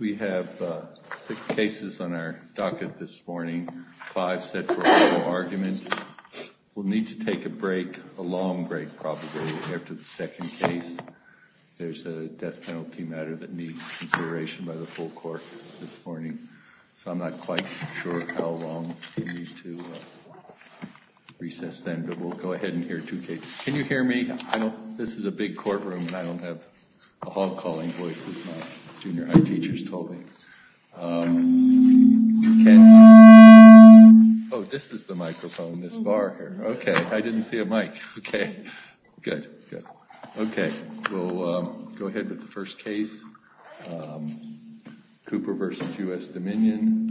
We have six cases on our docket this morning, five set for oral argument. We'll need to take a break, a long break probably, after the second case. There's a death penalty matter that needs consideration by the full court this morning. So I'm not quite sure how long we need to recess then, but we'll go ahead and hear two cases. Can you hear me? This is a big courtroom and I don't have a hog-calling voice as my junior high teachers told me. Oh, this is the microphone, this bar here. Okay, I didn't see a mic. Okay, good. Okay, we'll go ahead with the first case. Cooper v. US Dominion.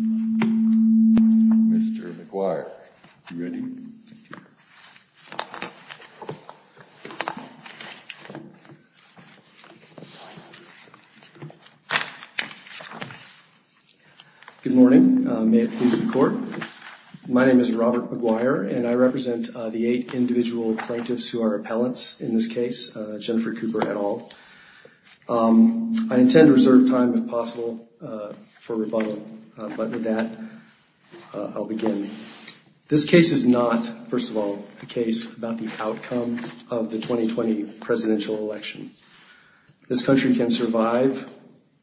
Mr. McGuire. Are you ready? Good morning. May it please the court. My name is Robert McGuire and I represent the eight individual plaintiffs who are appellants in this case, Jennifer Cooper et al. I intend to reserve time if possible for rebuttal, but with that, I'll begin. This case is not, first of all, the case about the outcome of the 2020 presidential election. This country can survive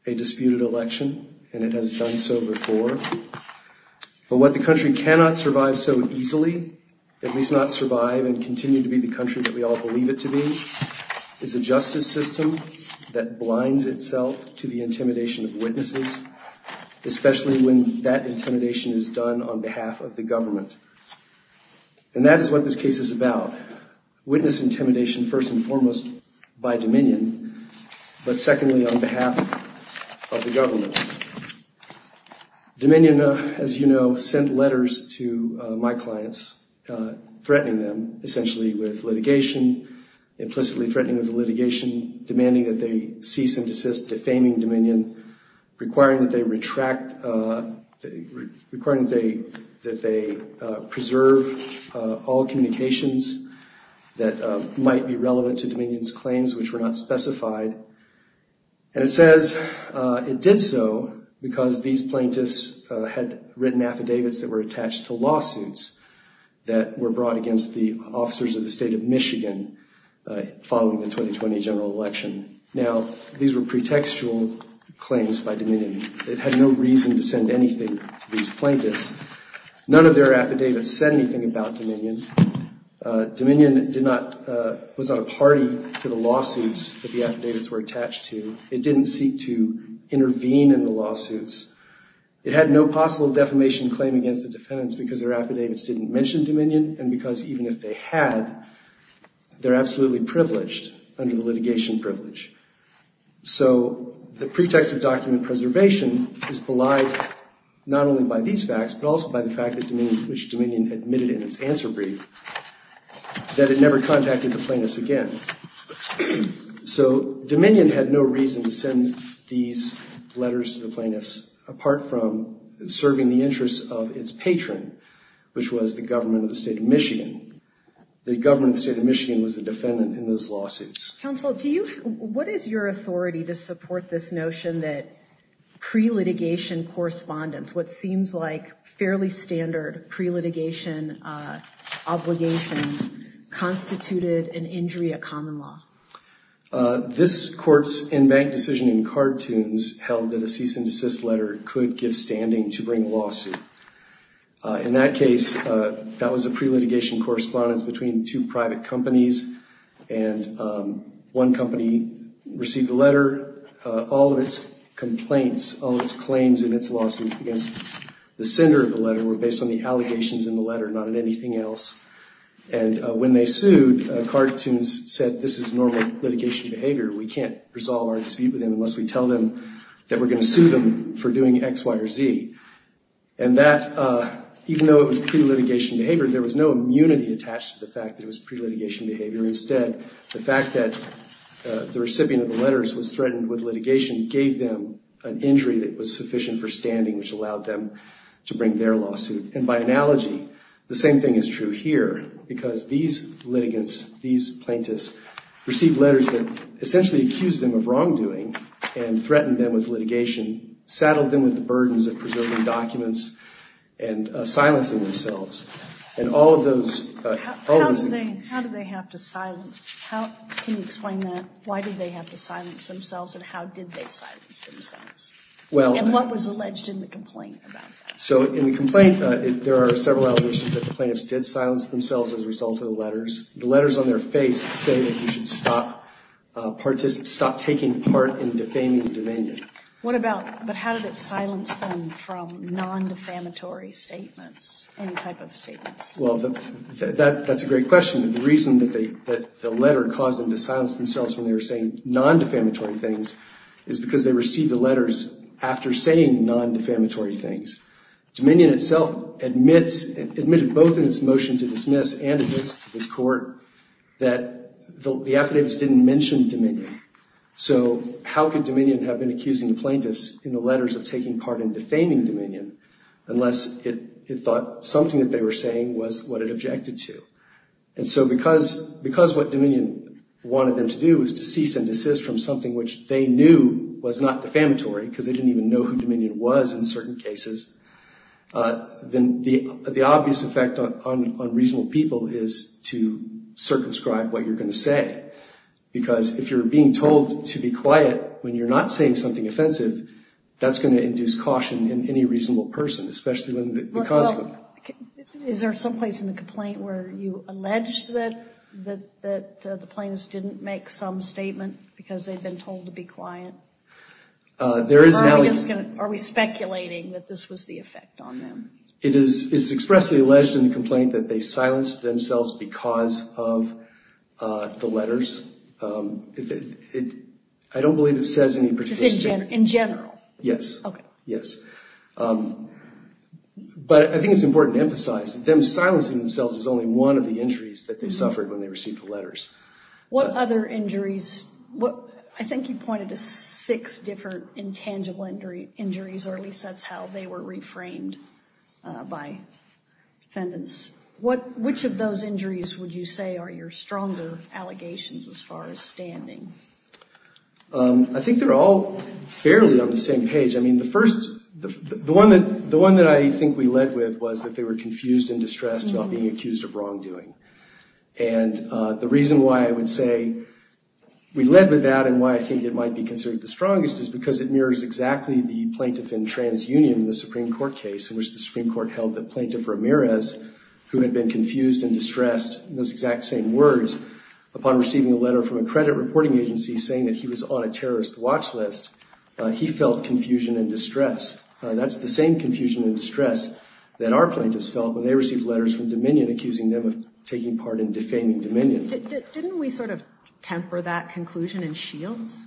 a disputed election and it has done so before, but what the country cannot survive so easily, at least not survive and continue to be the country that we all believe it to be, is a justice system that blinds itself to the intimidation of witnesses, especially when that intimidation is done on behalf of the people. On behalf of the government. And that is what this case is about. Witness intimidation, first and foremost, by Dominion, but secondly, on behalf of the government. Dominion, as you know, sent letters to my clients, threatening them, essentially with litigation, implicitly threatening with litigation, demanding that they cease and desist, defaming Dominion, requiring that they retract, requiring that they preserve all communications that might be relevant to Dominion's claims, which were not specified. And it says it did so because these plaintiffs had written affidavits that were attached to lawsuits that were brought against the officers of the state of Michigan following the 2020 general election. Now, these were pretextual claims by Dominion. It had no reason to send anything to these plaintiffs. None of their affidavits said anything about Dominion. Dominion did not, was not a party to the lawsuits that the affidavits were attached to. It didn't seek to intervene in the lawsuits. It had no possible defamation claim against the defendants because their affidavits didn't mention Dominion. And because even if they had, they're absolutely privileged under the litigation privilege. So the pretext of document preservation is belied not only by these facts, but also by the fact that Dominion, which Dominion admitted in its answer brief, that it never contacted the plaintiffs again. So Dominion had no reason to send these letters to the plaintiffs apart from serving the interests of its patron, which was the government of the state of Michigan. The government of the state of Michigan was the defendant in those lawsuits. Counsel, do you, what is your authority to support this notion that pre-litigation correspondence, what seems like fairly standard pre-litigation obligations, constituted an injury of common law? This court's in-bank decision in Cartoons held that a cease and desist letter could give standing to bring a lawsuit. In that case, that was a pre-litigation correspondence between two private companies and one company received a letter. All of its complaints, all of its claims in its lawsuit against the sender of the letter were based on the allegations in the letter, not on anything else. And when they sued, Cartoons said, this is normal litigation behavior. We can't resolve our dispute with them unless we tell them that we're going to sue them for doing X, Y, or Z. And that, even though it was pre-litigation behavior, there was no immunity attached to the fact that it was pre-litigation behavior. Instead, the fact that the recipient of the letters was threatened with litigation gave them an injury that was sufficient for standing, which allowed them to bring their lawsuit. And by analogy, the same thing is true here, because these litigants, these plaintiffs received letters that essentially accused them of wrongdoing and threatened them with litigation, saddled them with the burdens of preserving documents and silencing themselves. And all of those... How did they have to silence... Can you explain that? Why did they have to silence themselves, and how did they silence themselves? Well... And what was alleged in the complaint about that? So, in the complaint, there are several allegations that the plaintiffs did silence themselves as a result of the letters. The letters on their face say that you should stop taking part in defaming the Dominion. What about... But how did it silence them from non-defamatory statements, any type of statements? Well, that's a great question. The reason that the letter caused them to silence themselves when they were saying non-defamatory things is because they received the letters after saying non-defamatory things. Dominion itself admits, admitted both in its motion to dismiss and address to this court, that the affidavits didn't mention Dominion. So, how could Dominion have been accusing the plaintiffs in the letters of taking part in defaming Dominion unless it thought something that they were saying was what it objected to? And so, because what Dominion wanted them to do was to cease and desist from something which they knew was not defamatory, because they didn't even know who Dominion was in certain cases, then the obvious effect on reasonable people is to circumscribe what you're going to say. Because if you're being told to be quiet when you're not saying something offensive, that's going to induce caution in any reasonable person, especially when the cause... Is there some place in the complaint where you alleged that the plaintiffs didn't make some statement because they'd been told to be quiet? There is now... Are we speculating that this was the effect on them? It is expressly alleged in the complaint that they silenced themselves because of the letters. I don't believe it says any particular statement. In general? Yes. Okay. Yes. But I think it's important to emphasize that them silencing themselves is only one of the injuries that they suffered when they received the letters. What other injuries? I think you pointed to six different intangible injuries, or at least that's how they were reframed by defendants. Which of those injuries would you say are your stronger allegations as far as standing? I think they're all fairly on the same page. The one that I think we led with was that they were confused and distressed about being accused of wrongdoing. And the reason why I would say we led with that and why I think it might be considered the strongest is because it mirrors exactly the plaintiff in TransUnion, the Supreme Court case in which the Supreme Court held that Plaintiff Ramirez, who had been confused and distressed, in those exact same words, upon receiving a letter from a credit reporting agency saying that he was on a terrorist watch list, he felt confusion and distress. That's the same confusion and distress that our plaintiffs felt when they received letters from Dominion accusing them of taking part in defaming Dominion. Didn't we sort of temper that conclusion in Shields?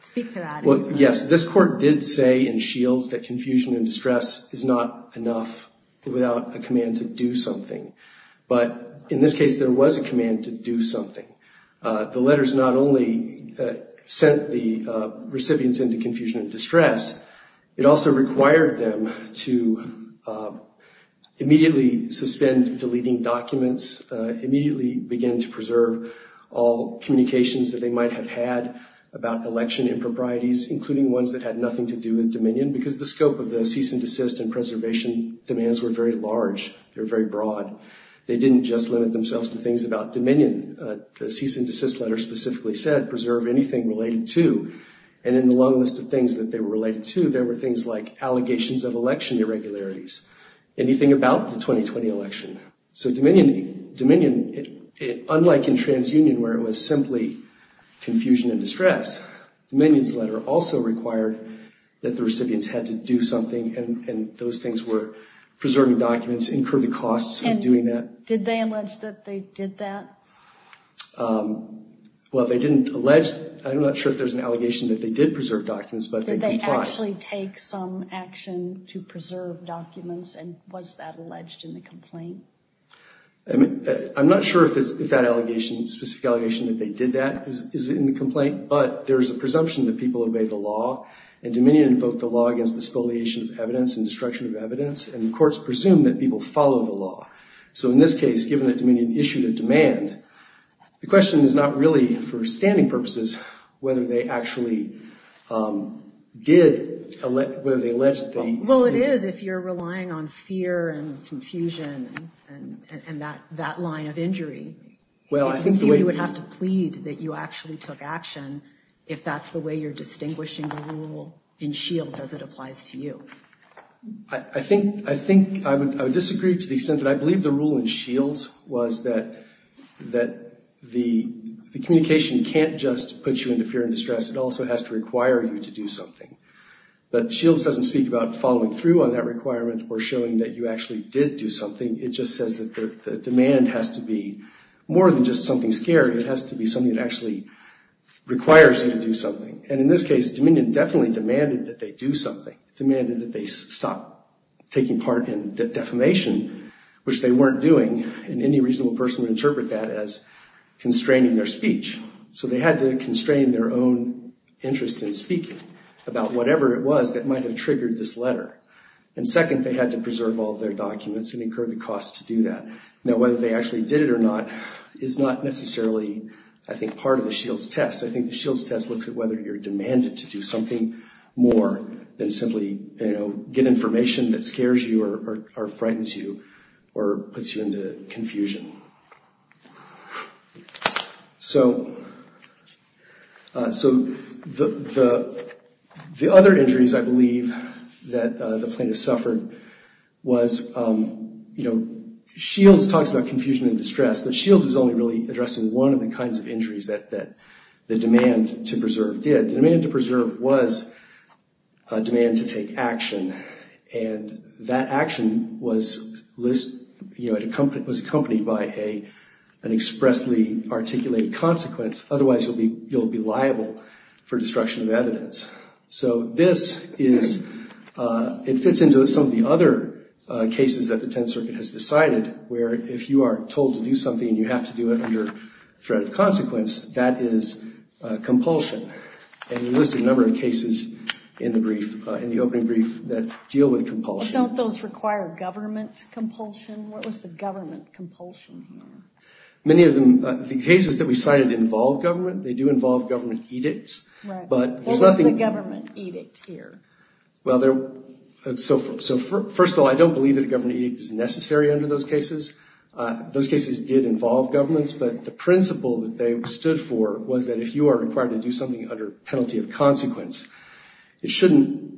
Speak to that. Yes. This Court did say in Shields that confusion and distress is not enough without a command to do something. But in this case, there was a command to do something. The letters not only sent the recipients into confusion and distress, it also required them to immediately suspend deleting documents, immediately begin to preserve all communications that they might have had about election improprieties, including ones that had nothing to do with Dominion, because the scope of the cease and desist and preservation demands were very large. They were very broad. They didn't just limit themselves to things about Dominion. The cease and desist letter specifically said preserve anything related to, and in the long list of things that they were related to, there were things like allegations of election irregularities, anything about the 2020 election. So Dominion, unlike in TransUnion where it was simply confusion and distress, Dominion's letter also required that the recipients had to do something, and those things were preserving documents, incur the costs of doing that. And did they allege that they did that? Well, they didn't allege. I'm not sure if there's an allegation that they did preserve documents, but they did try. Did they actually take some action to preserve documents, and was that alleged in the complaint? I'm not sure if that specific allegation that they did that is in the complaint, but there is a presumption that people obey the law, and Dominion invoked the law against the spoliation of evidence and destruction of evidence, and the courts presume that people follow the law. So in this case, given that Dominion issued a demand, the question is not really for standing purposes whether they actually did, whether they alleged that they did. Well, it is if you're relying on fear and confusion and that line of injury. Well, I think the way you would have to plead that you actually took action if that's the way you're distinguishing the rule in Shields as it applies to you. I think I would disagree to the extent that I believe the rule in Shields was that the communication can't just put you into fear and distress. It also has to require you to do something. But Shields doesn't speak about following through on that requirement or showing that you actually did do something. It just says that the demand has to be more than just something scary. It has to be something that actually requires you to do something. And in this case, Dominion definitely demanded that they do something, demanded that they stop taking part in defamation, which they weren't doing, and any reasonable person would interpret that as constraining their speech. So they had to constrain their own interest in speaking about whatever it was that might have triggered this letter. And second, they had to preserve all of their documents and incur the cost to do that. Now, whether they actually did it or not is not necessarily, I think, part of the Shields test. I think the Shields test looks at whether you're demanded to do something more than simply get information that scares you or frightens you or puts you into confusion. So the other injuries, I believe, that the plaintiff suffered was, you know, Shields talks about confusion and distress, but Shields is only really addressing one of the kinds of injuries that the demand to preserve did. The demand to preserve was a demand to take action, and that action was accompanied by an expressly articulated consequence. Otherwise, you'll be liable for destruction of evidence. So this is, it fits into some of the other cases that the Tenth Circuit has decided, where if you are told to do something and you have to do it under threat of consequence, that is compulsion. And we listed a number of cases in the brief, in the opening brief, that deal with compulsion. Don't those require government compulsion? What was the government compulsion here? Many of them, the cases that we cited involve government. They do involve government edicts. What was the government edict here? Well, so first of all, I don't believe that a government edict is necessary under those cases. Those cases did involve governments, but the principle that they stood for was that if you are required to do something under penalty of consequence, it shouldn't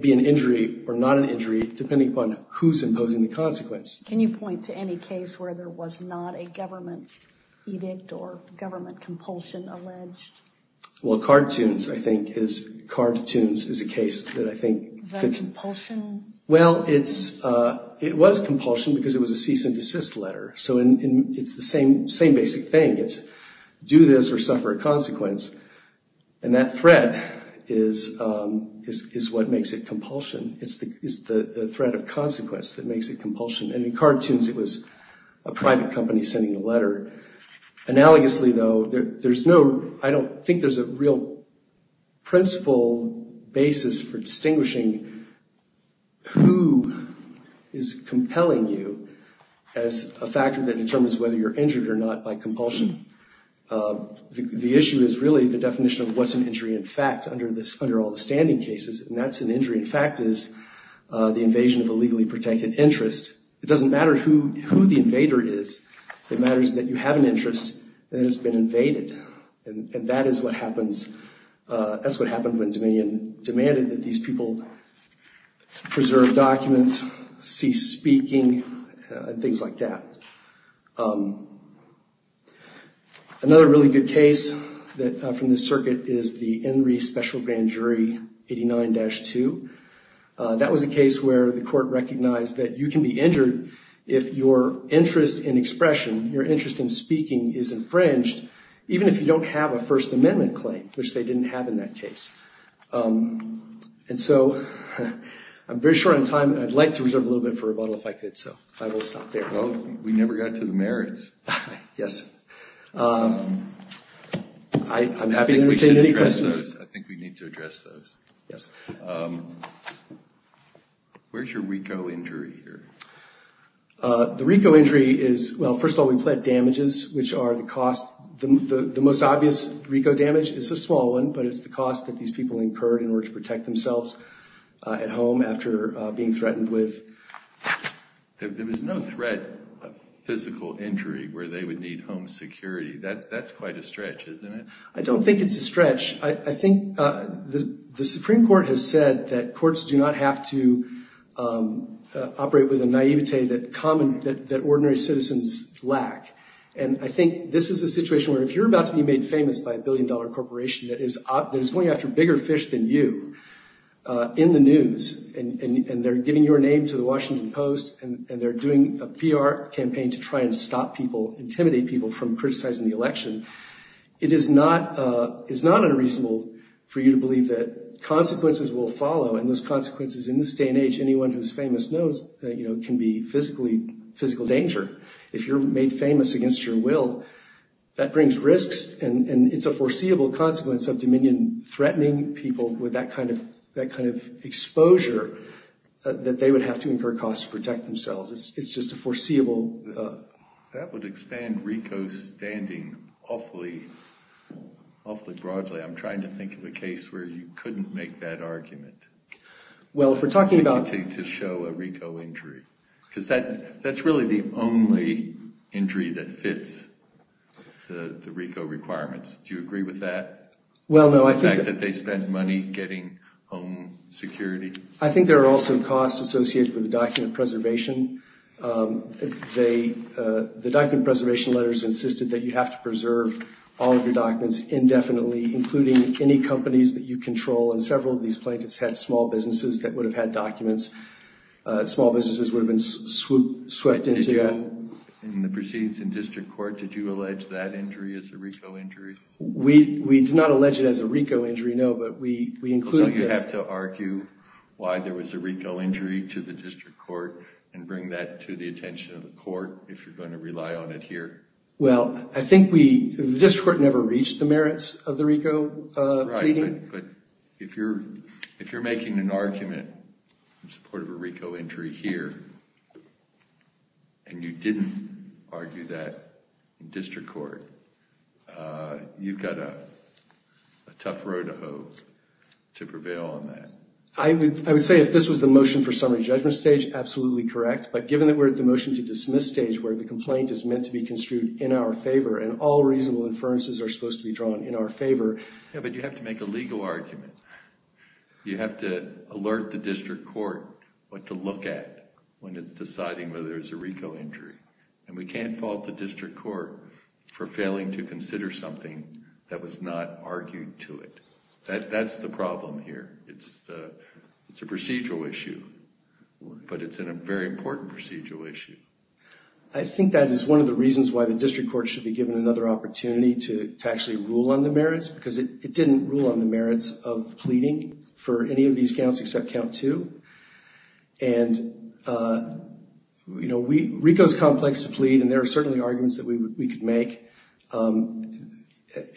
be an injury or not an injury, depending upon who's imposing the consequence. Can you point to any case where there was not a government edict or government compulsion alleged? Well, cartoons, I think, is, cartoons is a case that I think fits. Is that compulsion? Well, it's, it was compulsion because it was a cease and desist letter. So it's the same basic thing. It's do this or suffer a consequence. And that threat is what makes it compulsion. It's the threat of consequence that makes it compulsion. And in cartoons, it was a private company sending a letter. Analogously, though, there's no, I don't think there's a real principle basis for distinguishing who is compelling you as a factor that determines whether you're injured or not by compulsion. The issue is really the definition of what's an injury in fact under all the standing cases. And that's an injury in fact is the invasion of a legally protected interest. It doesn't matter who the invader is. It matters that you have an interest that has been invaded. And that is what happens, that's what happened when Dominion demanded that these people preserve documents, cease speaking, and things like that. Another really good case that, from this circuit, is the Henry Special Grand Jury 89-2. That was a case where the court recognized that you can be injured if your interest in expression, your interest in speaking is infringed, even if you don't have a First Amendment claim, which they didn't have in that case. And so I'm very short on time, and I'd like to reserve a little bit for rebuttal if I could, so I will stop there. Well, we never got to the merits. Yes. I'm happy to entertain any questions. I think we need to address those. Yes. Where's your RICO injury here? The RICO injury is, well, first of all, we pled damages, which are the cost. The most obvious RICO damage is a small one, but it's the cost that these people incurred in order to protect themselves at home after being threatened with. There was no threat of physical injury where they would need home security. That's quite a stretch, isn't it? I don't think it's a stretch. I think the Supreme Court has said that courts do not have to operate with a naivete that ordinary citizens lack, and I think this is a situation where if you're about to be made famous by a billion-dollar corporation that is going after bigger fish than you in the news, and they're giving your name to the Washington Post, and they're doing a PR campaign to try and stop people, intimidate people from criticizing the election, it is not unreasonable for you to believe that consequences will follow, and those consequences in this day and age anyone who's famous knows can be physical danger. If you're made famous against your will, that brings risks, and it's a foreseeable consequence of Dominion threatening people with that kind of exposure that they would have to incur costs to protect themselves. It's just a foreseeable... That would expand RICO standing awfully broadly. I'm trying to think of a case where you couldn't make that argument. Well, if we're talking about... To show a RICO injury, because that's really the only injury that fits the RICO requirements. Do you agree with that? Well, no, I think... The fact that they spend money getting home security? I think there are also costs associated with the document preservation. The document preservation letters insisted that you have to preserve all of your documents indefinitely, including any companies that you control, and several of these plaintiffs had small businesses that would have had documents. Small businesses would have been swept into that. In the proceedings in district court, did you allege that injury as a RICO injury? We did not allege it as a RICO injury, no, but we included... Don't you have to argue why there was a RICO injury to the district court and bring that to the attention of the court if you're going to rely on it here? Well, I think we... The district court never reached the merits of the RICO pleading. Right, but if you're making an argument in support of a RICO injury here and you didn't argue that in district court, you've got a tough road to hoe to prevail on that. I would say if this was the motion for summary judgment stage, absolutely correct, but given that we're at the motion to dismiss stage where the complaint is meant to be construed in our favor and all reasonable inferences are supposed to be drawn in our favor... Yeah, but you have to make a legal argument. You have to alert the district court what to look at when it's deciding whether it's a RICO injury, and we can't fault the district court for failing to consider something that was not argued to it. That's the problem here. It's a procedural issue, but it's a very important procedural issue. I think that is one of the reasons why the district court should be given another opportunity to actually rule on the merits because it didn't rule on the merits of the pleading for any of these counts except count two, and RICO's complex to plead, and there are certainly arguments that we could make on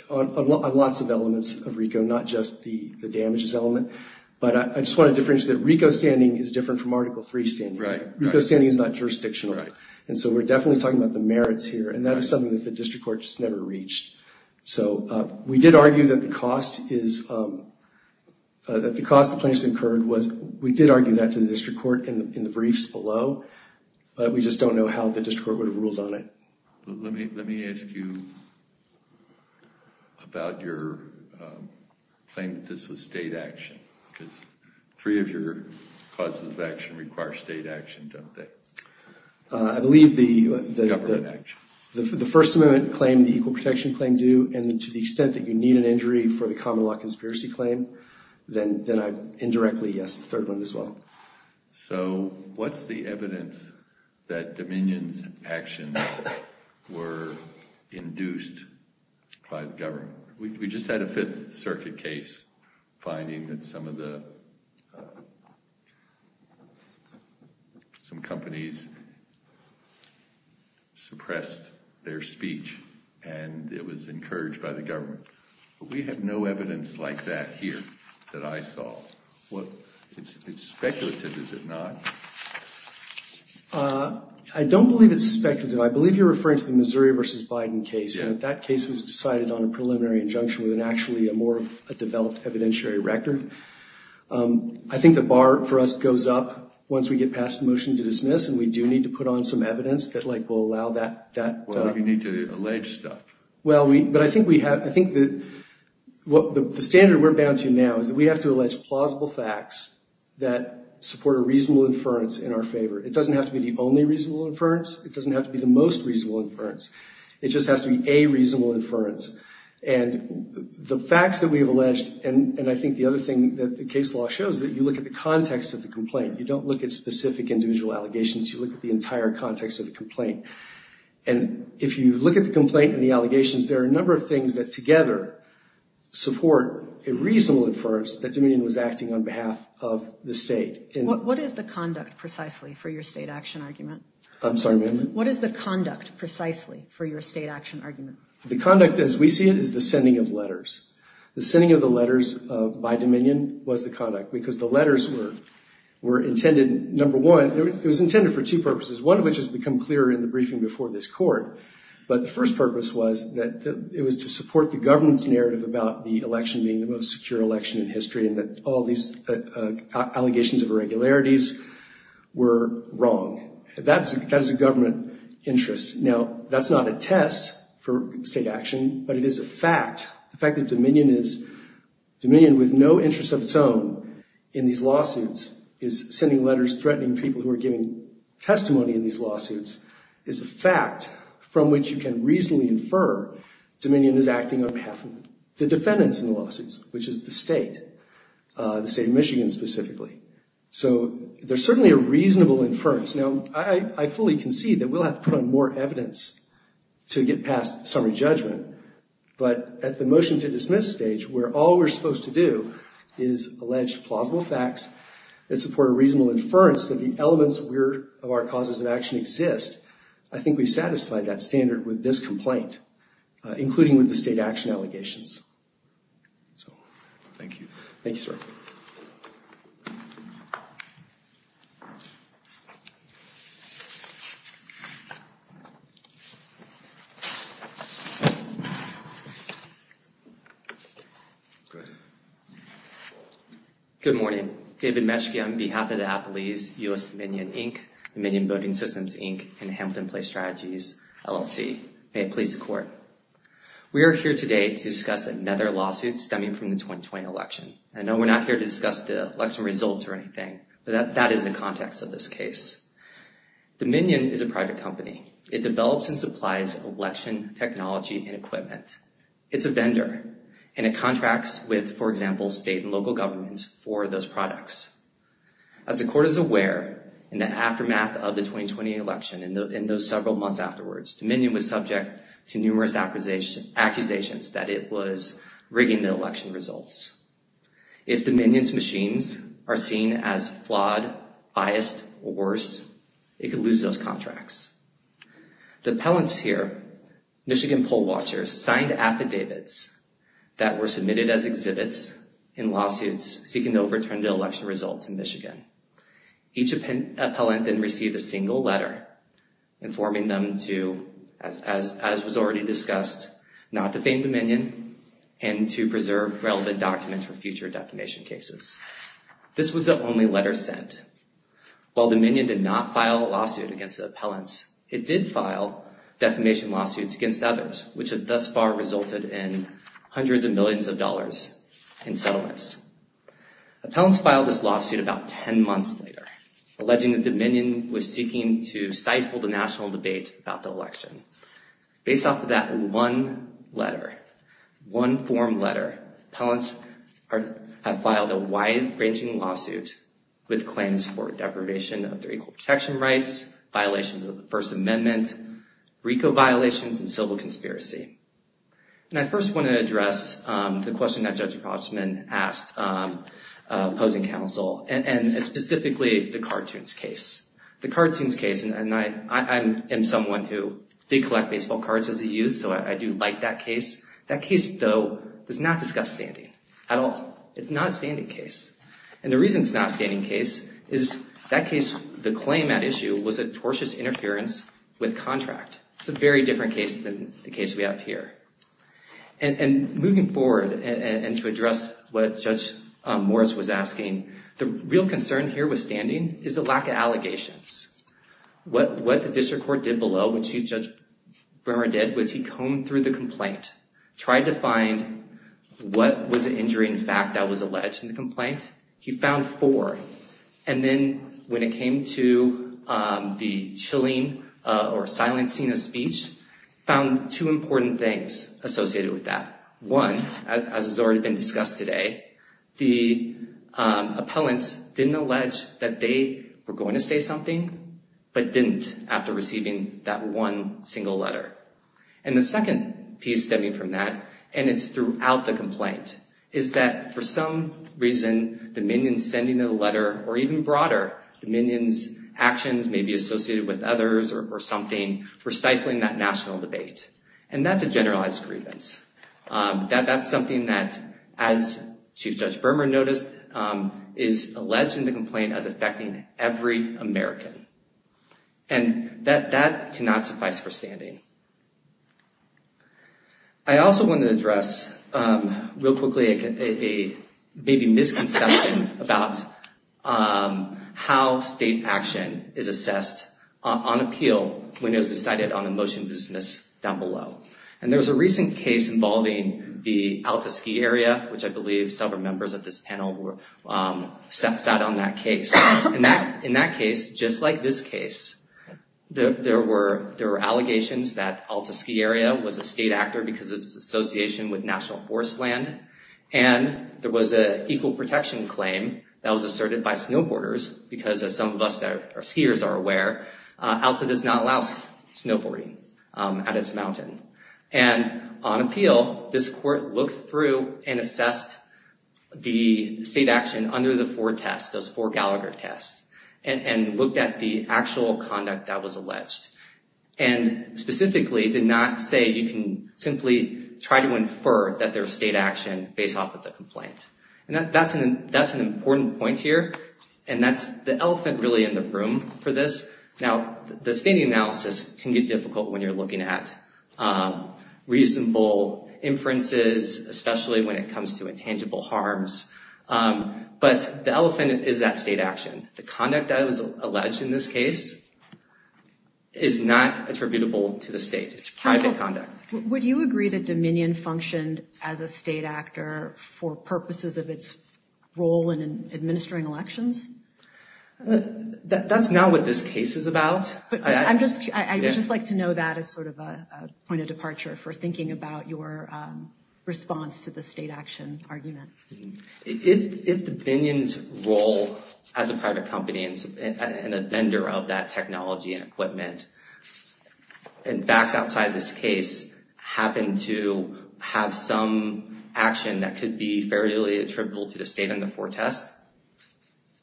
lots of elements of RICO, not just the damages element, but I just want to differentiate that RICO standing is different from Article III standing. RICO standing is not jurisdictional, and so we're definitely talking about the merits here, and that is something that the district court just never reached. We did argue that the cost of plaintiffs incurred was... We did argue that to the district court in the briefs below, but we just don't know how the district court would have ruled on it. Let me ask you about your claim that this was state action because three of your causes of action require state action, don't they? I believe the... Government action. The First Amendment claim, the Equal Protection Claim do, and to the extent that you need an injury for the Common Law Conspiracy Claim, then I indirectly guess the third one as well. So what's the evidence that Dominion's actions were induced by the government? We just had a Fifth Circuit case finding that some of the... Some companies suppressed their speech, and it was encouraged by the government, but we have no evidence like that here that I saw. It's speculative, is it not? I don't believe it's speculative. I believe you're referring to the Missouri v. Biden case, and that case was decided on a preliminary injunction with actually a more developed evidentiary record. I think the bar for us goes up once we get past the motion to dismiss, and we do need to put on some evidence that will allow that... Well, we need to allege stuff. Well, but I think the standard we're bound to now is that we have to allege plausible facts that support a reasonable inference in our favor. It doesn't have to be the only reasonable inference. It doesn't have to be the most reasonable inference. It just has to be a reasonable inference. And the facts that we have alleged, and I think the other thing that the case law shows, is that you look at the context of the complaint. You don't look at specific individual allegations. You look at the entire context of the complaint. And if you look at the complaint and the allegations, there are a number of things that together support a reasonable inference that Dominion was acting on behalf of the state. What is the conduct precisely for your state action argument? I'm sorry, ma'am? What is the conduct precisely for your state action argument? The conduct as we see it is the sending of letters. The sending of the letters by Dominion was the conduct because the letters were intended, number one, it was intended for two purposes, one of which has become clear in the briefing before this court. But the first purpose was that it was to support the government's narrative about the election being the most secure election in history and that all these allegations of irregularities were wrong. That is a government interest. Now, that's not a test for state action, but it is a fact, the fact that Dominion is, Dominion with no interest of its own in these lawsuits is sending letters threatening people who are giving testimony in these lawsuits is a fact from which you can reasonably infer Dominion is acting on behalf of the defendants in the lawsuits, which is the state, the state of Michigan specifically. So there's certainly a reasonable inference. Now, I fully concede that we'll have to put on more evidence to get past summary judgment, but at the motion to dismiss stage where all we're supposed to do is allege plausible facts that support a reasonable inference that the elements of our causes of action exist, I think we've satisfied that standard with this complaint, including with the state action allegations. Thank you. Thank you, sir. Thank you. Good morning. David Metschke on behalf of the Appalese, U.S. Dominion, Inc., Dominion Voting Systems, Inc., and Hamilton Place Strategies, LLC. May it please the court. We are here today to discuss another lawsuit stemming from the 2020 election. I know we're not here to discuss the election results or anything, but that is the context of this case. Dominion is a private company. It develops and supplies election technology and equipment. It's a vendor, and it contracts with, for example, state and local governments for those products. As the court is aware, in the aftermath of the 2020 election, in those several months afterwards, Dominion was subject to numerous accusations that it was rigging the election results. If Dominion's machines are seen as flawed, biased, or worse, it could lose those contracts. The appellants here, Michigan poll watchers, signed affidavits that were submitted as exhibits in lawsuits seeking to overturn the election results in Michigan. Each appellant then received a single letter informing them to, as was already discussed, not to fame Dominion and to preserve relevant documents for future defamation cases. This was the only letter sent. While Dominion did not file a lawsuit against the appellants, it did file defamation lawsuits against others, which thus far resulted in hundreds of millions of dollars in settlements. Appellants filed this lawsuit about 10 months later, alleging that Dominion was seeking to stifle the national debate about the election. Based off of that one letter, one form letter, appellants have filed a wide-ranging lawsuit with claims for deprivation of their equal protection rights, violations of the First Amendment, RICO violations, and civil conspiracy. I first want to address the question that Judge Potsman asked opposing counsel, and specifically the cartoons case. The cartoons case, and I am someone who did collect baseball cards as a youth, so I do like that case. That case, though, does not discuss standing at all. It's not a standing case. And the reason it's not a standing case is that case, the claim at issue was a tortious interference with contract. It's a very different case than the case we have here. And moving forward, and to address what Judge Morris was asking, the real concern here with standing is the lack of allegations. What the district court did below, which Judge Bremer did, was he combed through the complaint, tried to find what was an injuring fact that was alleged in the complaint. He found four. And then when it came to the chilling or silencing of speech, found two important things associated with that. One, as has already been discussed today, the appellants didn't allege that they were going to say something, but didn't after receiving that one single letter. And the second piece stemming from that, and it's throughout the complaint, is that for some reason the minion sending the letter, or even broader, the minion's actions may be associated with others or something, were stifling that national debate. And that's a generalized grievance. That's something that, as Chief Judge Bremer noticed, is alleged in the complaint as affecting every American. And that cannot suffice for standing. I also want to address, real quickly, a maybe misconception about how state action is assessed on appeal And there's a recent case involving the Alta ski area, which I believe several members of this panel sat on that case. In that case, just like this case, there were allegations that Alta ski area was a state actor because of its association with national forest land, and there was an equal protection claim that was asserted by snowboarders, because as some of us skiers are aware, Alta does not allow snowboarding at its mountain. And on appeal, this court looked through and assessed the state action under the four tests, those four Gallagher tests, and looked at the actual conduct that was alleged, and specifically did not say you can simply try to infer that there was state action based off of the complaint. And that's an important point here, and that's the elephant really in the room for this. Now, the standing analysis can get difficult when you're looking at reasonable inferences, especially when it comes to intangible harms. But the elephant is that state action. The conduct that was alleged in this case is not attributable to the state. It's private conduct. Would you agree that Dominion functioned as a state actor for purposes of its role in administering elections? That's not what this case is about. I would just like to know that as sort of a point of departure for thinking about your response to the state action argument. If Dominion's role as a private company and a vendor of that technology and equipment, and facts outside this case, happen to have some action that could be fairly attributable to the state in the four tests,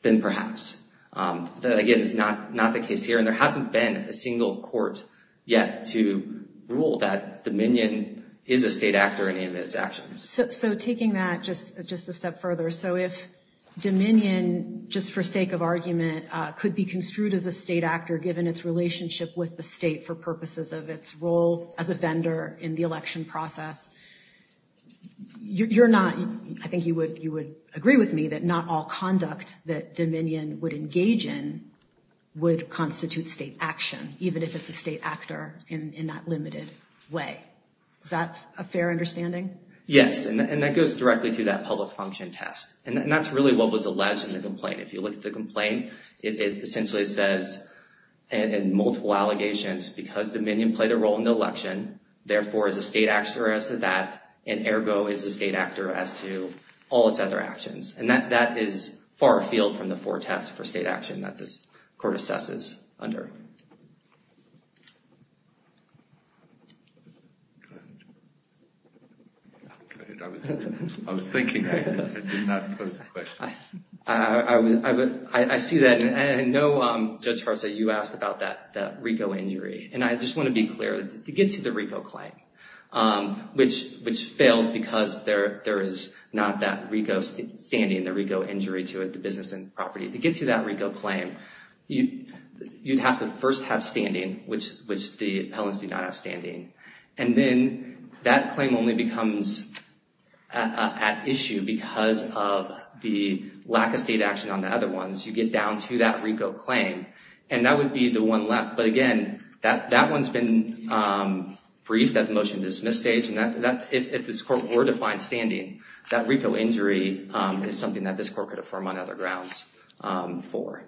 then perhaps. Again, it's not the case here, and there hasn't been a single court yet to rule that Dominion is a state actor in any of its actions. So taking that just a step further, so if Dominion, just for sake of argument, could be construed as a state actor given its relationship with the state for purposes of its role as a vendor in the election process, you're not, I think you would agree with me, that not all conduct that Dominion would engage in would constitute state action, even if it's a state actor in that limited way. Is that a fair understanding? Yes, and that goes directly to that public function test. And that's really what was alleged in the complaint. If you look at the complaint, it essentially says, in multiple allegations, because Dominion played a role in the election, therefore is a state actor as to that, and ergo is a state actor as to all its other actions. And that is far afield from the four tests for state action that this court assesses under. Go ahead. Go ahead. I was thinking I did not pose a question. I see that. And I know, Judge Hartzell, you asked about that RICO injury. And I just want to be clear. To get to the RICO claim, which fails because there is not that RICO standing, the RICO injury to the business and property, to get to that RICO claim, you'd have to first have standing, which the appellants do not have standing. And then that claim only becomes at issue because of the lack of state action on the other ones. You get down to that RICO claim, and that would be the one left. But again, that one's been briefed at the motion-dismiss stage. And if this court were to find standing, that RICO injury is something that this court could affirm on other grounds for.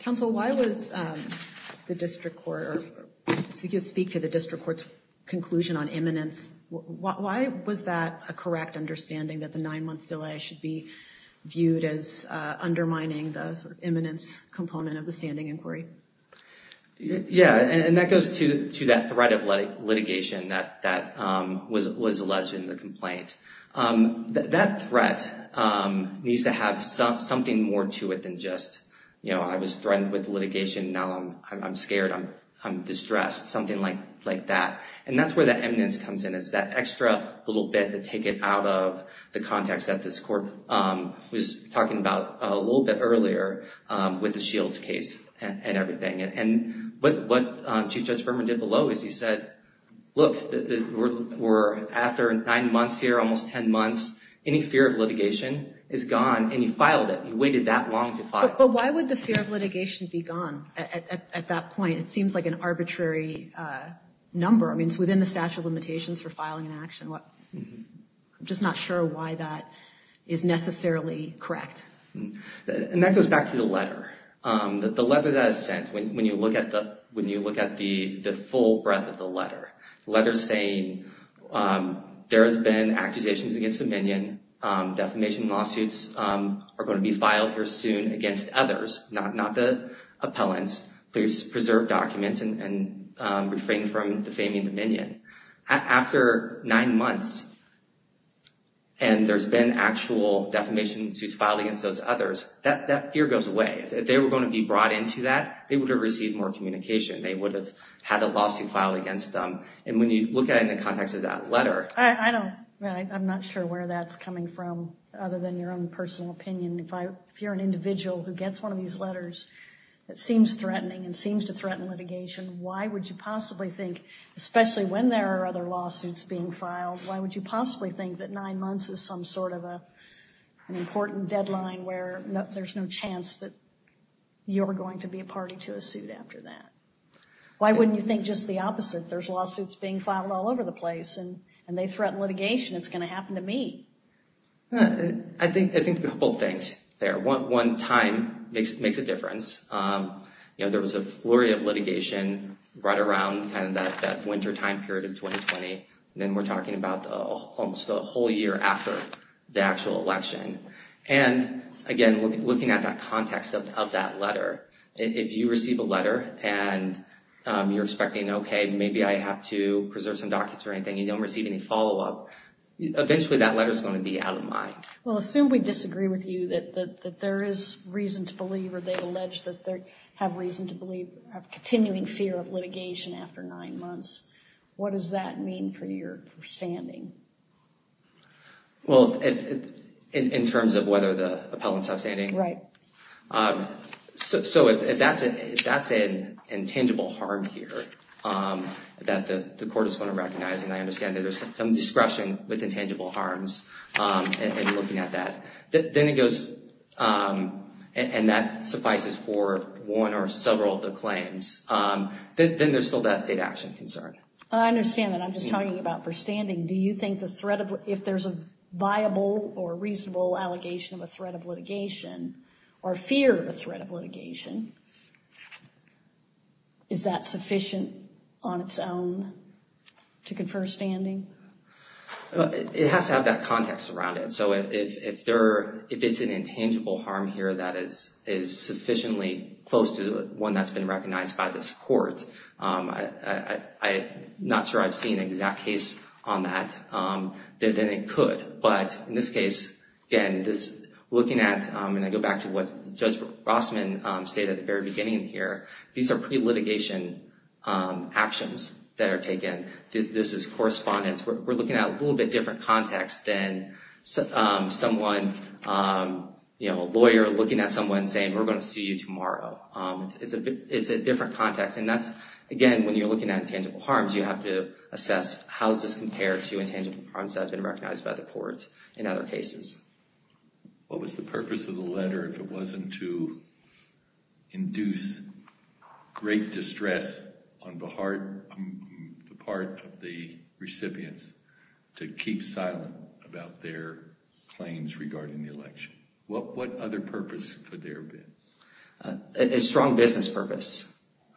Counsel, why was the district court, so you could speak to the district court's conclusion on imminence, why was that a correct understanding that the nine-month delay should be viewed as undermining the sort of imminence component of the standing inquiry? Yeah, and that goes to that threat of litigation that was alleged in the complaint. That threat needs to have something more to it than just, you know, I was threatened with litigation, now I'm scared, I'm distressed, something like that. And that's where that imminence comes in, it's that extra little bit to take it out of the context that this court was talking about a little bit earlier with the Shields case and everything. And what Chief Judge Berman did below is he said, look, we're after nine months here, almost ten months, any fear of litigation is gone, and he filed it. He waited that long to file it. But why would the fear of litigation be gone at that point? It seems like an arbitrary number. I mean, it's within the statute of limitations for filing an action. I'm just not sure why that is necessarily correct. And that goes back to the letter. The letter that is sent, when you look at the full breadth of the letter, the letter is saying there has been accusations against the minion, defamation lawsuits are going to be filed here soon against others, not the appellants, please preserve documents and refrain from defaming the minion. After nine months, and there's been actual defamation suits filed against those others, that fear goes away. If they were going to be brought into that, they would have received more communication. They would have had a lawsuit filed against them. And when you look at it in the context of that letter. I'm not sure where that's coming from other than your own personal opinion. If you're an individual who gets one of these letters, it seems threatening and seems to threaten litigation. Why would you possibly think, especially when there are other lawsuits being filed, why would you possibly think that nine months is some sort of an important deadline where there's no chance that you're going to be a party to a suit after that? Why wouldn't you think just the opposite? There's lawsuits being filed all over the place and they threaten litigation. It's going to happen to me. I think a couple of things there. One, time makes a difference. There was a flurry of litigation right around that winter time period of 2020. Then we're talking about almost a whole year after the actual election. And again, looking at that context of that letter, if you receive a letter and you're expecting, okay, maybe I have to preserve some documents or anything and you don't receive any follow-up, eventually that letter is going to be out of line. Well, assume we disagree with you that there is reason to believe or they allege that they have reason to believe, have continuing fear of litigation after nine months. What does that mean for your standing? Well, in terms of whether the appellants have standing? Right. So if that's an intangible harm here that the court is going to recognize, and I understand that there's some discretion with intangible harms in looking at that, then it goes, and that suffices for one or several of the claims, then there's still that state action concern. I understand that. I'm just talking about for standing. Do you think if there's a viable or reasonable allegation of a threat of litigation or fear of a threat of litigation, is that sufficient on its own to confer standing? It has to have that context around it. So if it's an intangible harm here that is sufficiently close to one that's been recognized by this court, I'm not sure I've seen an exact case on that, then it could. But in this case, again, looking at, and I go back to what Judge Rossman stated at the very beginning here, these are pre-litigation actions that are taken. This is correspondence. We're looking at a little bit different context than someone, you know, a lawyer looking at someone saying, we're going to sue you tomorrow. It's a different context, and that's, again, when you're looking at intangible harms, you have to assess how does this compare to intangible harms that have been recognized by the court in other cases. What was the purpose of the letter if it wasn't to induce great distress on the What other purpose could there have been? A strong business purpose.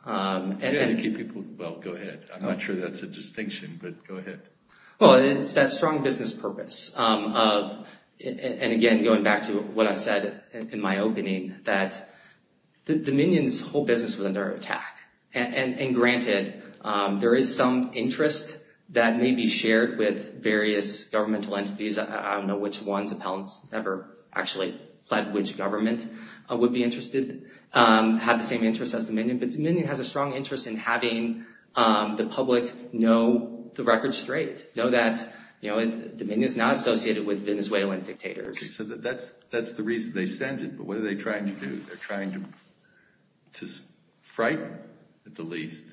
Well, go ahead. I'm not sure that's a distinction, but go ahead. Well, it's that strong business purpose of, and again, going back to what I said in my opening, that the minions hold business within their attack. And granted, there is some interest that may be shared with various governmental entities. I don't know which ones. Appellants never actually pledged which government would be interested, had the same interest as the minion. But the minion has a strong interest in having the public know the record straight, know that, you know, the minion is not associated with Venezuelan dictators. So that's the reason they send it, but what are they trying to do? They're trying to frighten, at the least,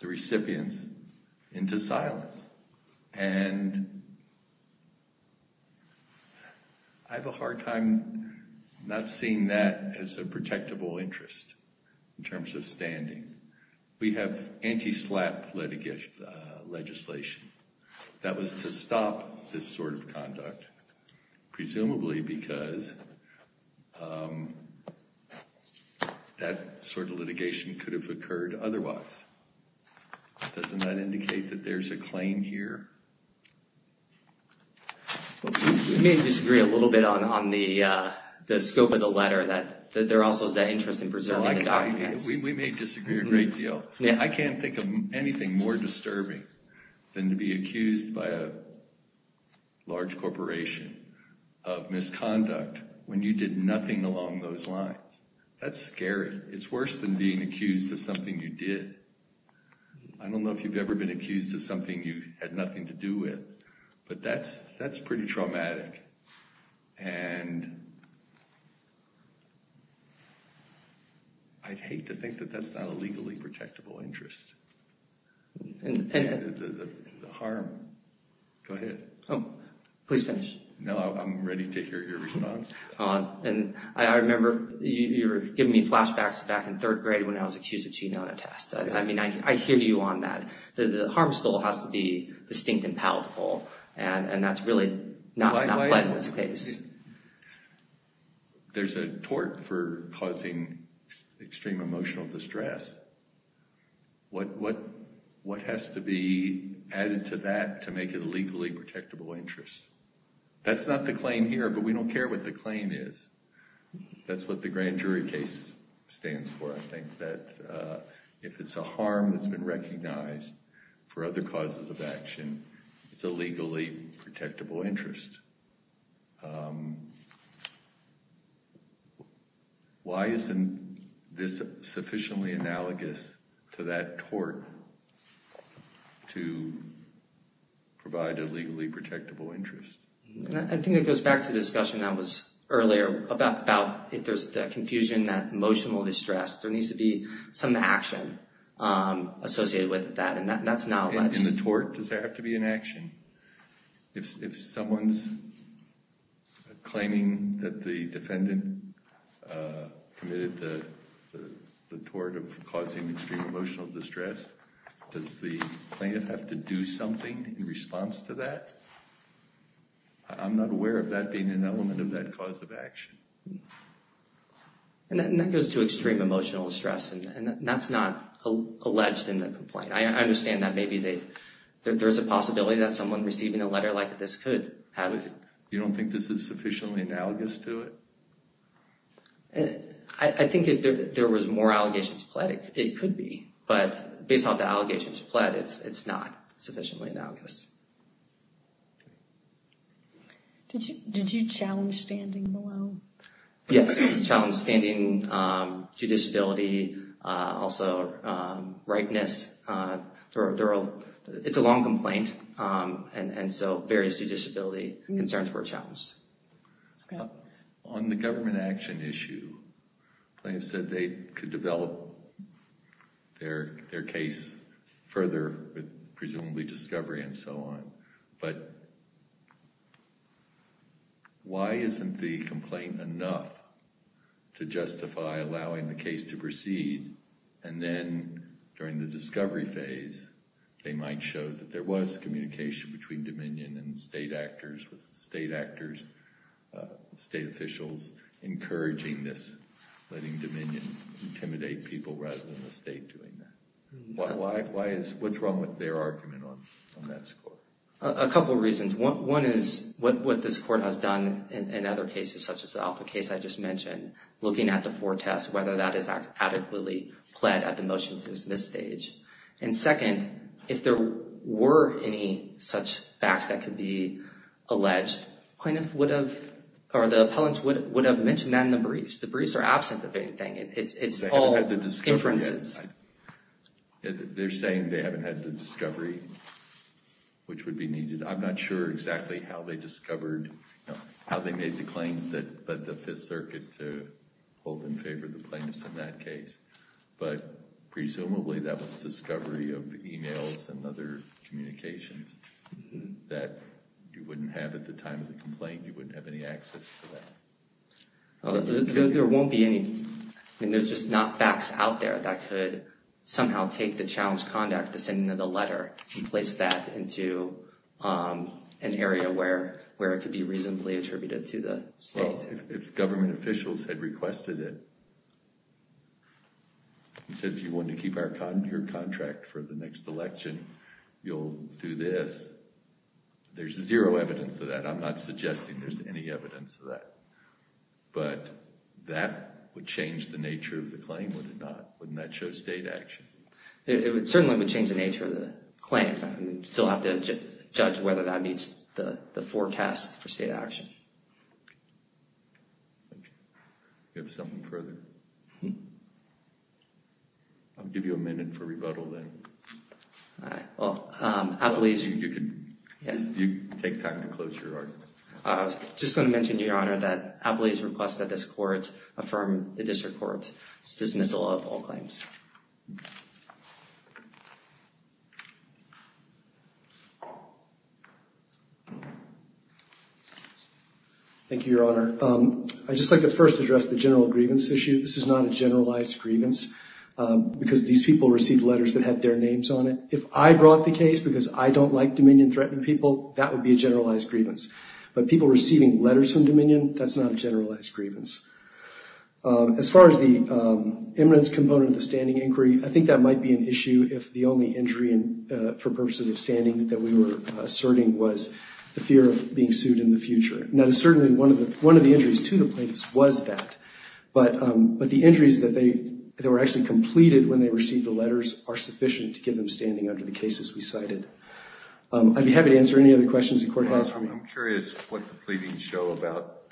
the recipients into silence. And I have a hard time not seeing that as a protectable interest, in terms of standing. We have anti-SLAPP legislation. That was to stop this sort of conduct, presumably because that sort of litigation could have occurred otherwise. Doesn't that indicate that there's a claim here? We may disagree a little bit on the scope of the letter, that there also is that interest in preserving the documents. We may disagree a great deal. I can't think of anything more disturbing than to be accused by a large corporation of misconduct when you did nothing along those lines. That's scary. It's worse than being accused of something you did. I don't know if you've ever been accused of something you had nothing to do with, but that's pretty traumatic. And I'd hate to think that that's not a legally protectable interest. The harm. Go ahead. Oh, please finish. No, I'm ready to hear your response. I remember you were giving me flashbacks back in third grade when I was accused of cheating on a test. I mean, I hear you on that. The harm still has to be distinct and palatable, and that's really not played in this case. There's a tort for causing extreme emotional distress. What has to be added to that to make it a legally protectable interest? That's not the claim here, but we don't care what the claim is. That's what the grand jury case stands for. I think that if it's a harm that's been recognized for other causes of action, it's a legally protectable interest. Why isn't this sufficiently analogous to that tort to provide a legally protectable interest? I think it goes back to the discussion that was earlier about if there's confusion, that emotional distress, there needs to be some action associated with that, and that's not alleged. In the tort, does there have to be an action? If someone's claiming that the defendant committed the tort of causing extreme emotional distress, does the plaintiff have to do something in that case? I'm not aware of that being an element of that cause of action. That goes to extreme emotional distress, and that's not alleged in the complaint. I understand that maybe there's a possibility that someone receiving a letter like this could have it. You don't think this is sufficiently analogous to it? I think if there was more allegations pled, it could be, but based on the Did you challenge standing below? Yes. We challenged standing, due disability, also ripeness. It's a long complaint, and so various due disability concerns were challenged. On the government action issue, the plaintiff said they could develop their own, but why isn't the complaint enough to justify allowing the case to proceed, and then during the discovery phase, they might show that there was communication between Dominion and state actors, state officials encouraging this, letting Dominion intimidate people rather than the state doing that. What's wrong with their argument on that score? A couple of reasons. One is what this court has done in other cases such as the Alpha case I just mentioned, looking at the four tests, whether that is adequately pled at the motion to dismiss stage. Second, if there were any such facts that could be alleged, the appellants would have mentioned that in the briefs. The briefs are absent of anything. It's all inferences. They're saying they haven't had the discovery, which would be needed. I'm not sure exactly how they discovered, how they made the claims that the Fifth Circuit to hold in favor of the plaintiffs in that case, but presumably that was discovery of emails and other communications that you wouldn't have at the time of the complaint. You wouldn't have any access to that. There won't be any. I mean, there's just not facts out there that could somehow take the challenge conduct, the sending of the letter, and place that into an area where it could be reasonably attributed to the state. Well, if government officials had requested it, if you wanted to keep your contract for the next election, you'll do this. There's zero evidence of that. And I'm not suggesting there's any evidence of that. But that would change the nature of the claim, would it not? Wouldn't that show state action? It certainly would change the nature of the claim. You'd still have to judge whether that meets the forecast for state action. Do you have something further? I'll give you a minute for rebuttal then. All right. Well, I believe you can take time to close your argument. I was just going to mention, Your Honor, that I believe the request that this court affirm the district court's dismissal of all claims. Thank you, Your Honor. I'd just like to first address the general grievance issue. This is not a generalized grievance because these people received letters that had their names on it. If I brought the case because I don't like dominion-threatening people, that would be a generalized grievance. But people receiving letters from dominion, that's not a generalized grievance. As far as the eminence component of the standing inquiry, I think that might be an issue if the only injury for purposes of standing that we were asserting was the fear of being sued in the future. Now, certainly one of the injuries to the plaintiffs was that. But the injuries that were actually completed when they received the letters were perhaps sufficient to give them standing under the cases we cited. I'd be happy to answer any other questions the court has for me. I'm curious what the pleadings show about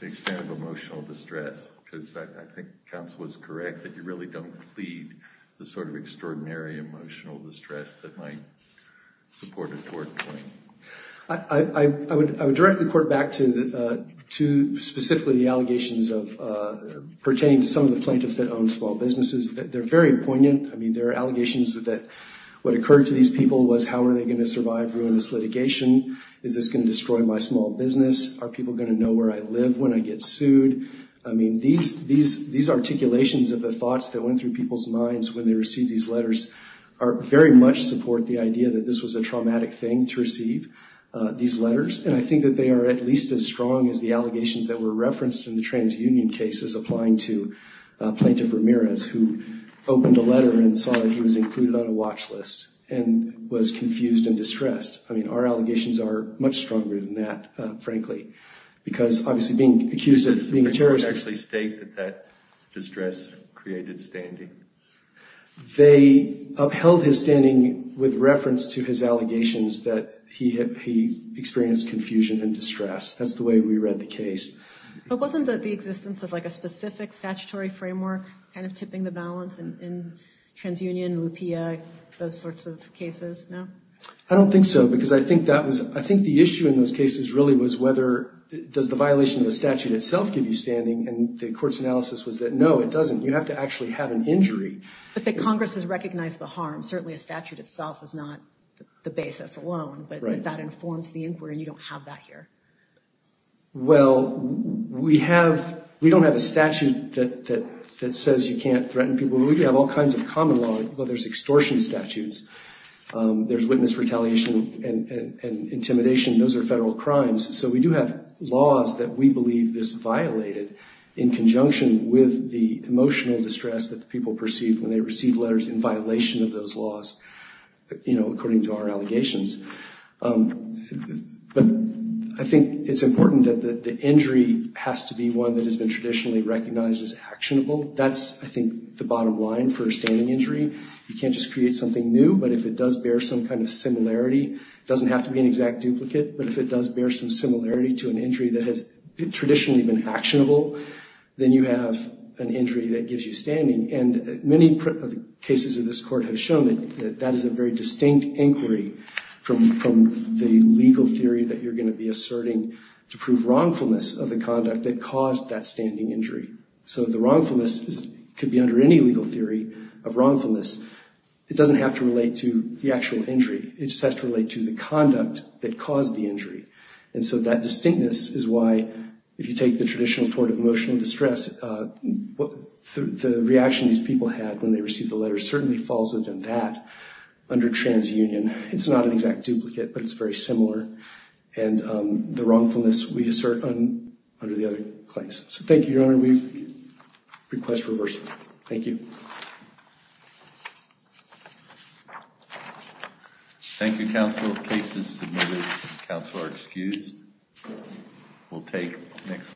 the extent of emotional distress because I think counsel was correct that you really don't plead the sort of extraordinary emotional distress that might support a court claim. I would direct the court back to specifically the allegations pertaining to some of the plaintiffs that own small businesses. They're very poignant. I mean, there are allegations that what occurred to these people was how are they going to survive ruinous litigation? Is this going to destroy my small business? Are people going to know where I live when I get sued? I mean, these articulations of the thoughts that went through people's minds when they received these letters very much support the idea that this was a traumatic thing to receive, these letters. And I think that they are at least as strong as the allegations that were and saw that he was included on a watch list and was confused and distressed. I mean, our allegations are much stronger than that, frankly, because obviously being accused of being a terrorist. Did the court actually state that that distress created standing? They upheld his standing with reference to his allegations that he experienced confusion and distress. That's the way we read the case. But wasn't the existence of, like, a specific statutory framework kind of tipping the balance in TransUnion, Lupia, those sorts of cases? No? I don't think so, because I think the issue in those cases really was whether does the violation of the statute itself give you standing, and the court's analysis was that no, it doesn't. You have to actually have an injury. But the Congress has recognized the harm. Certainly a statute itself is not the basis alone, but that informs the inquiry, and you don't have that here. Well, we don't have a statute that says you can't threaten people. We do have all kinds of common law, but there's extortion statutes. There's witness retaliation and intimidation. Those are federal crimes. So we do have laws that we believe this violated in conjunction with the emotional distress that people perceive when they receive letters in violation of those laws, you know, according to our allegations. But I think it's important that the injury has to be one that has been traditionally recognized as actionable. That's, I think, the bottom line for a standing injury. You can't just create something new, but if it does bear some kind of similarity, it doesn't have to be an exact duplicate, but if it does bear some similarity to an injury that has traditionally been actionable, then you have an injury that gives you standing. And many cases of this court have shown that that is a very distinct inquiry from the legal theory that you're going to be asserting to prove wrongfulness of the conduct that caused that standing injury. So the wrongfulness could be under any legal theory of wrongfulness. It doesn't have to relate to the actual injury. It just has to relate to the conduct that caused the injury. And so that distinctness is why, if you take the traditional court of emotional distress, the reaction these people had when they received the under transunion, it's not an exact duplicate, but it's very similar. And the wrongfulness we assert under the other claims. So thank you, Your Honor. We request reversal. Thank you. Thank you, counsel. The case is submitted. Counsel are excused. We'll take the next.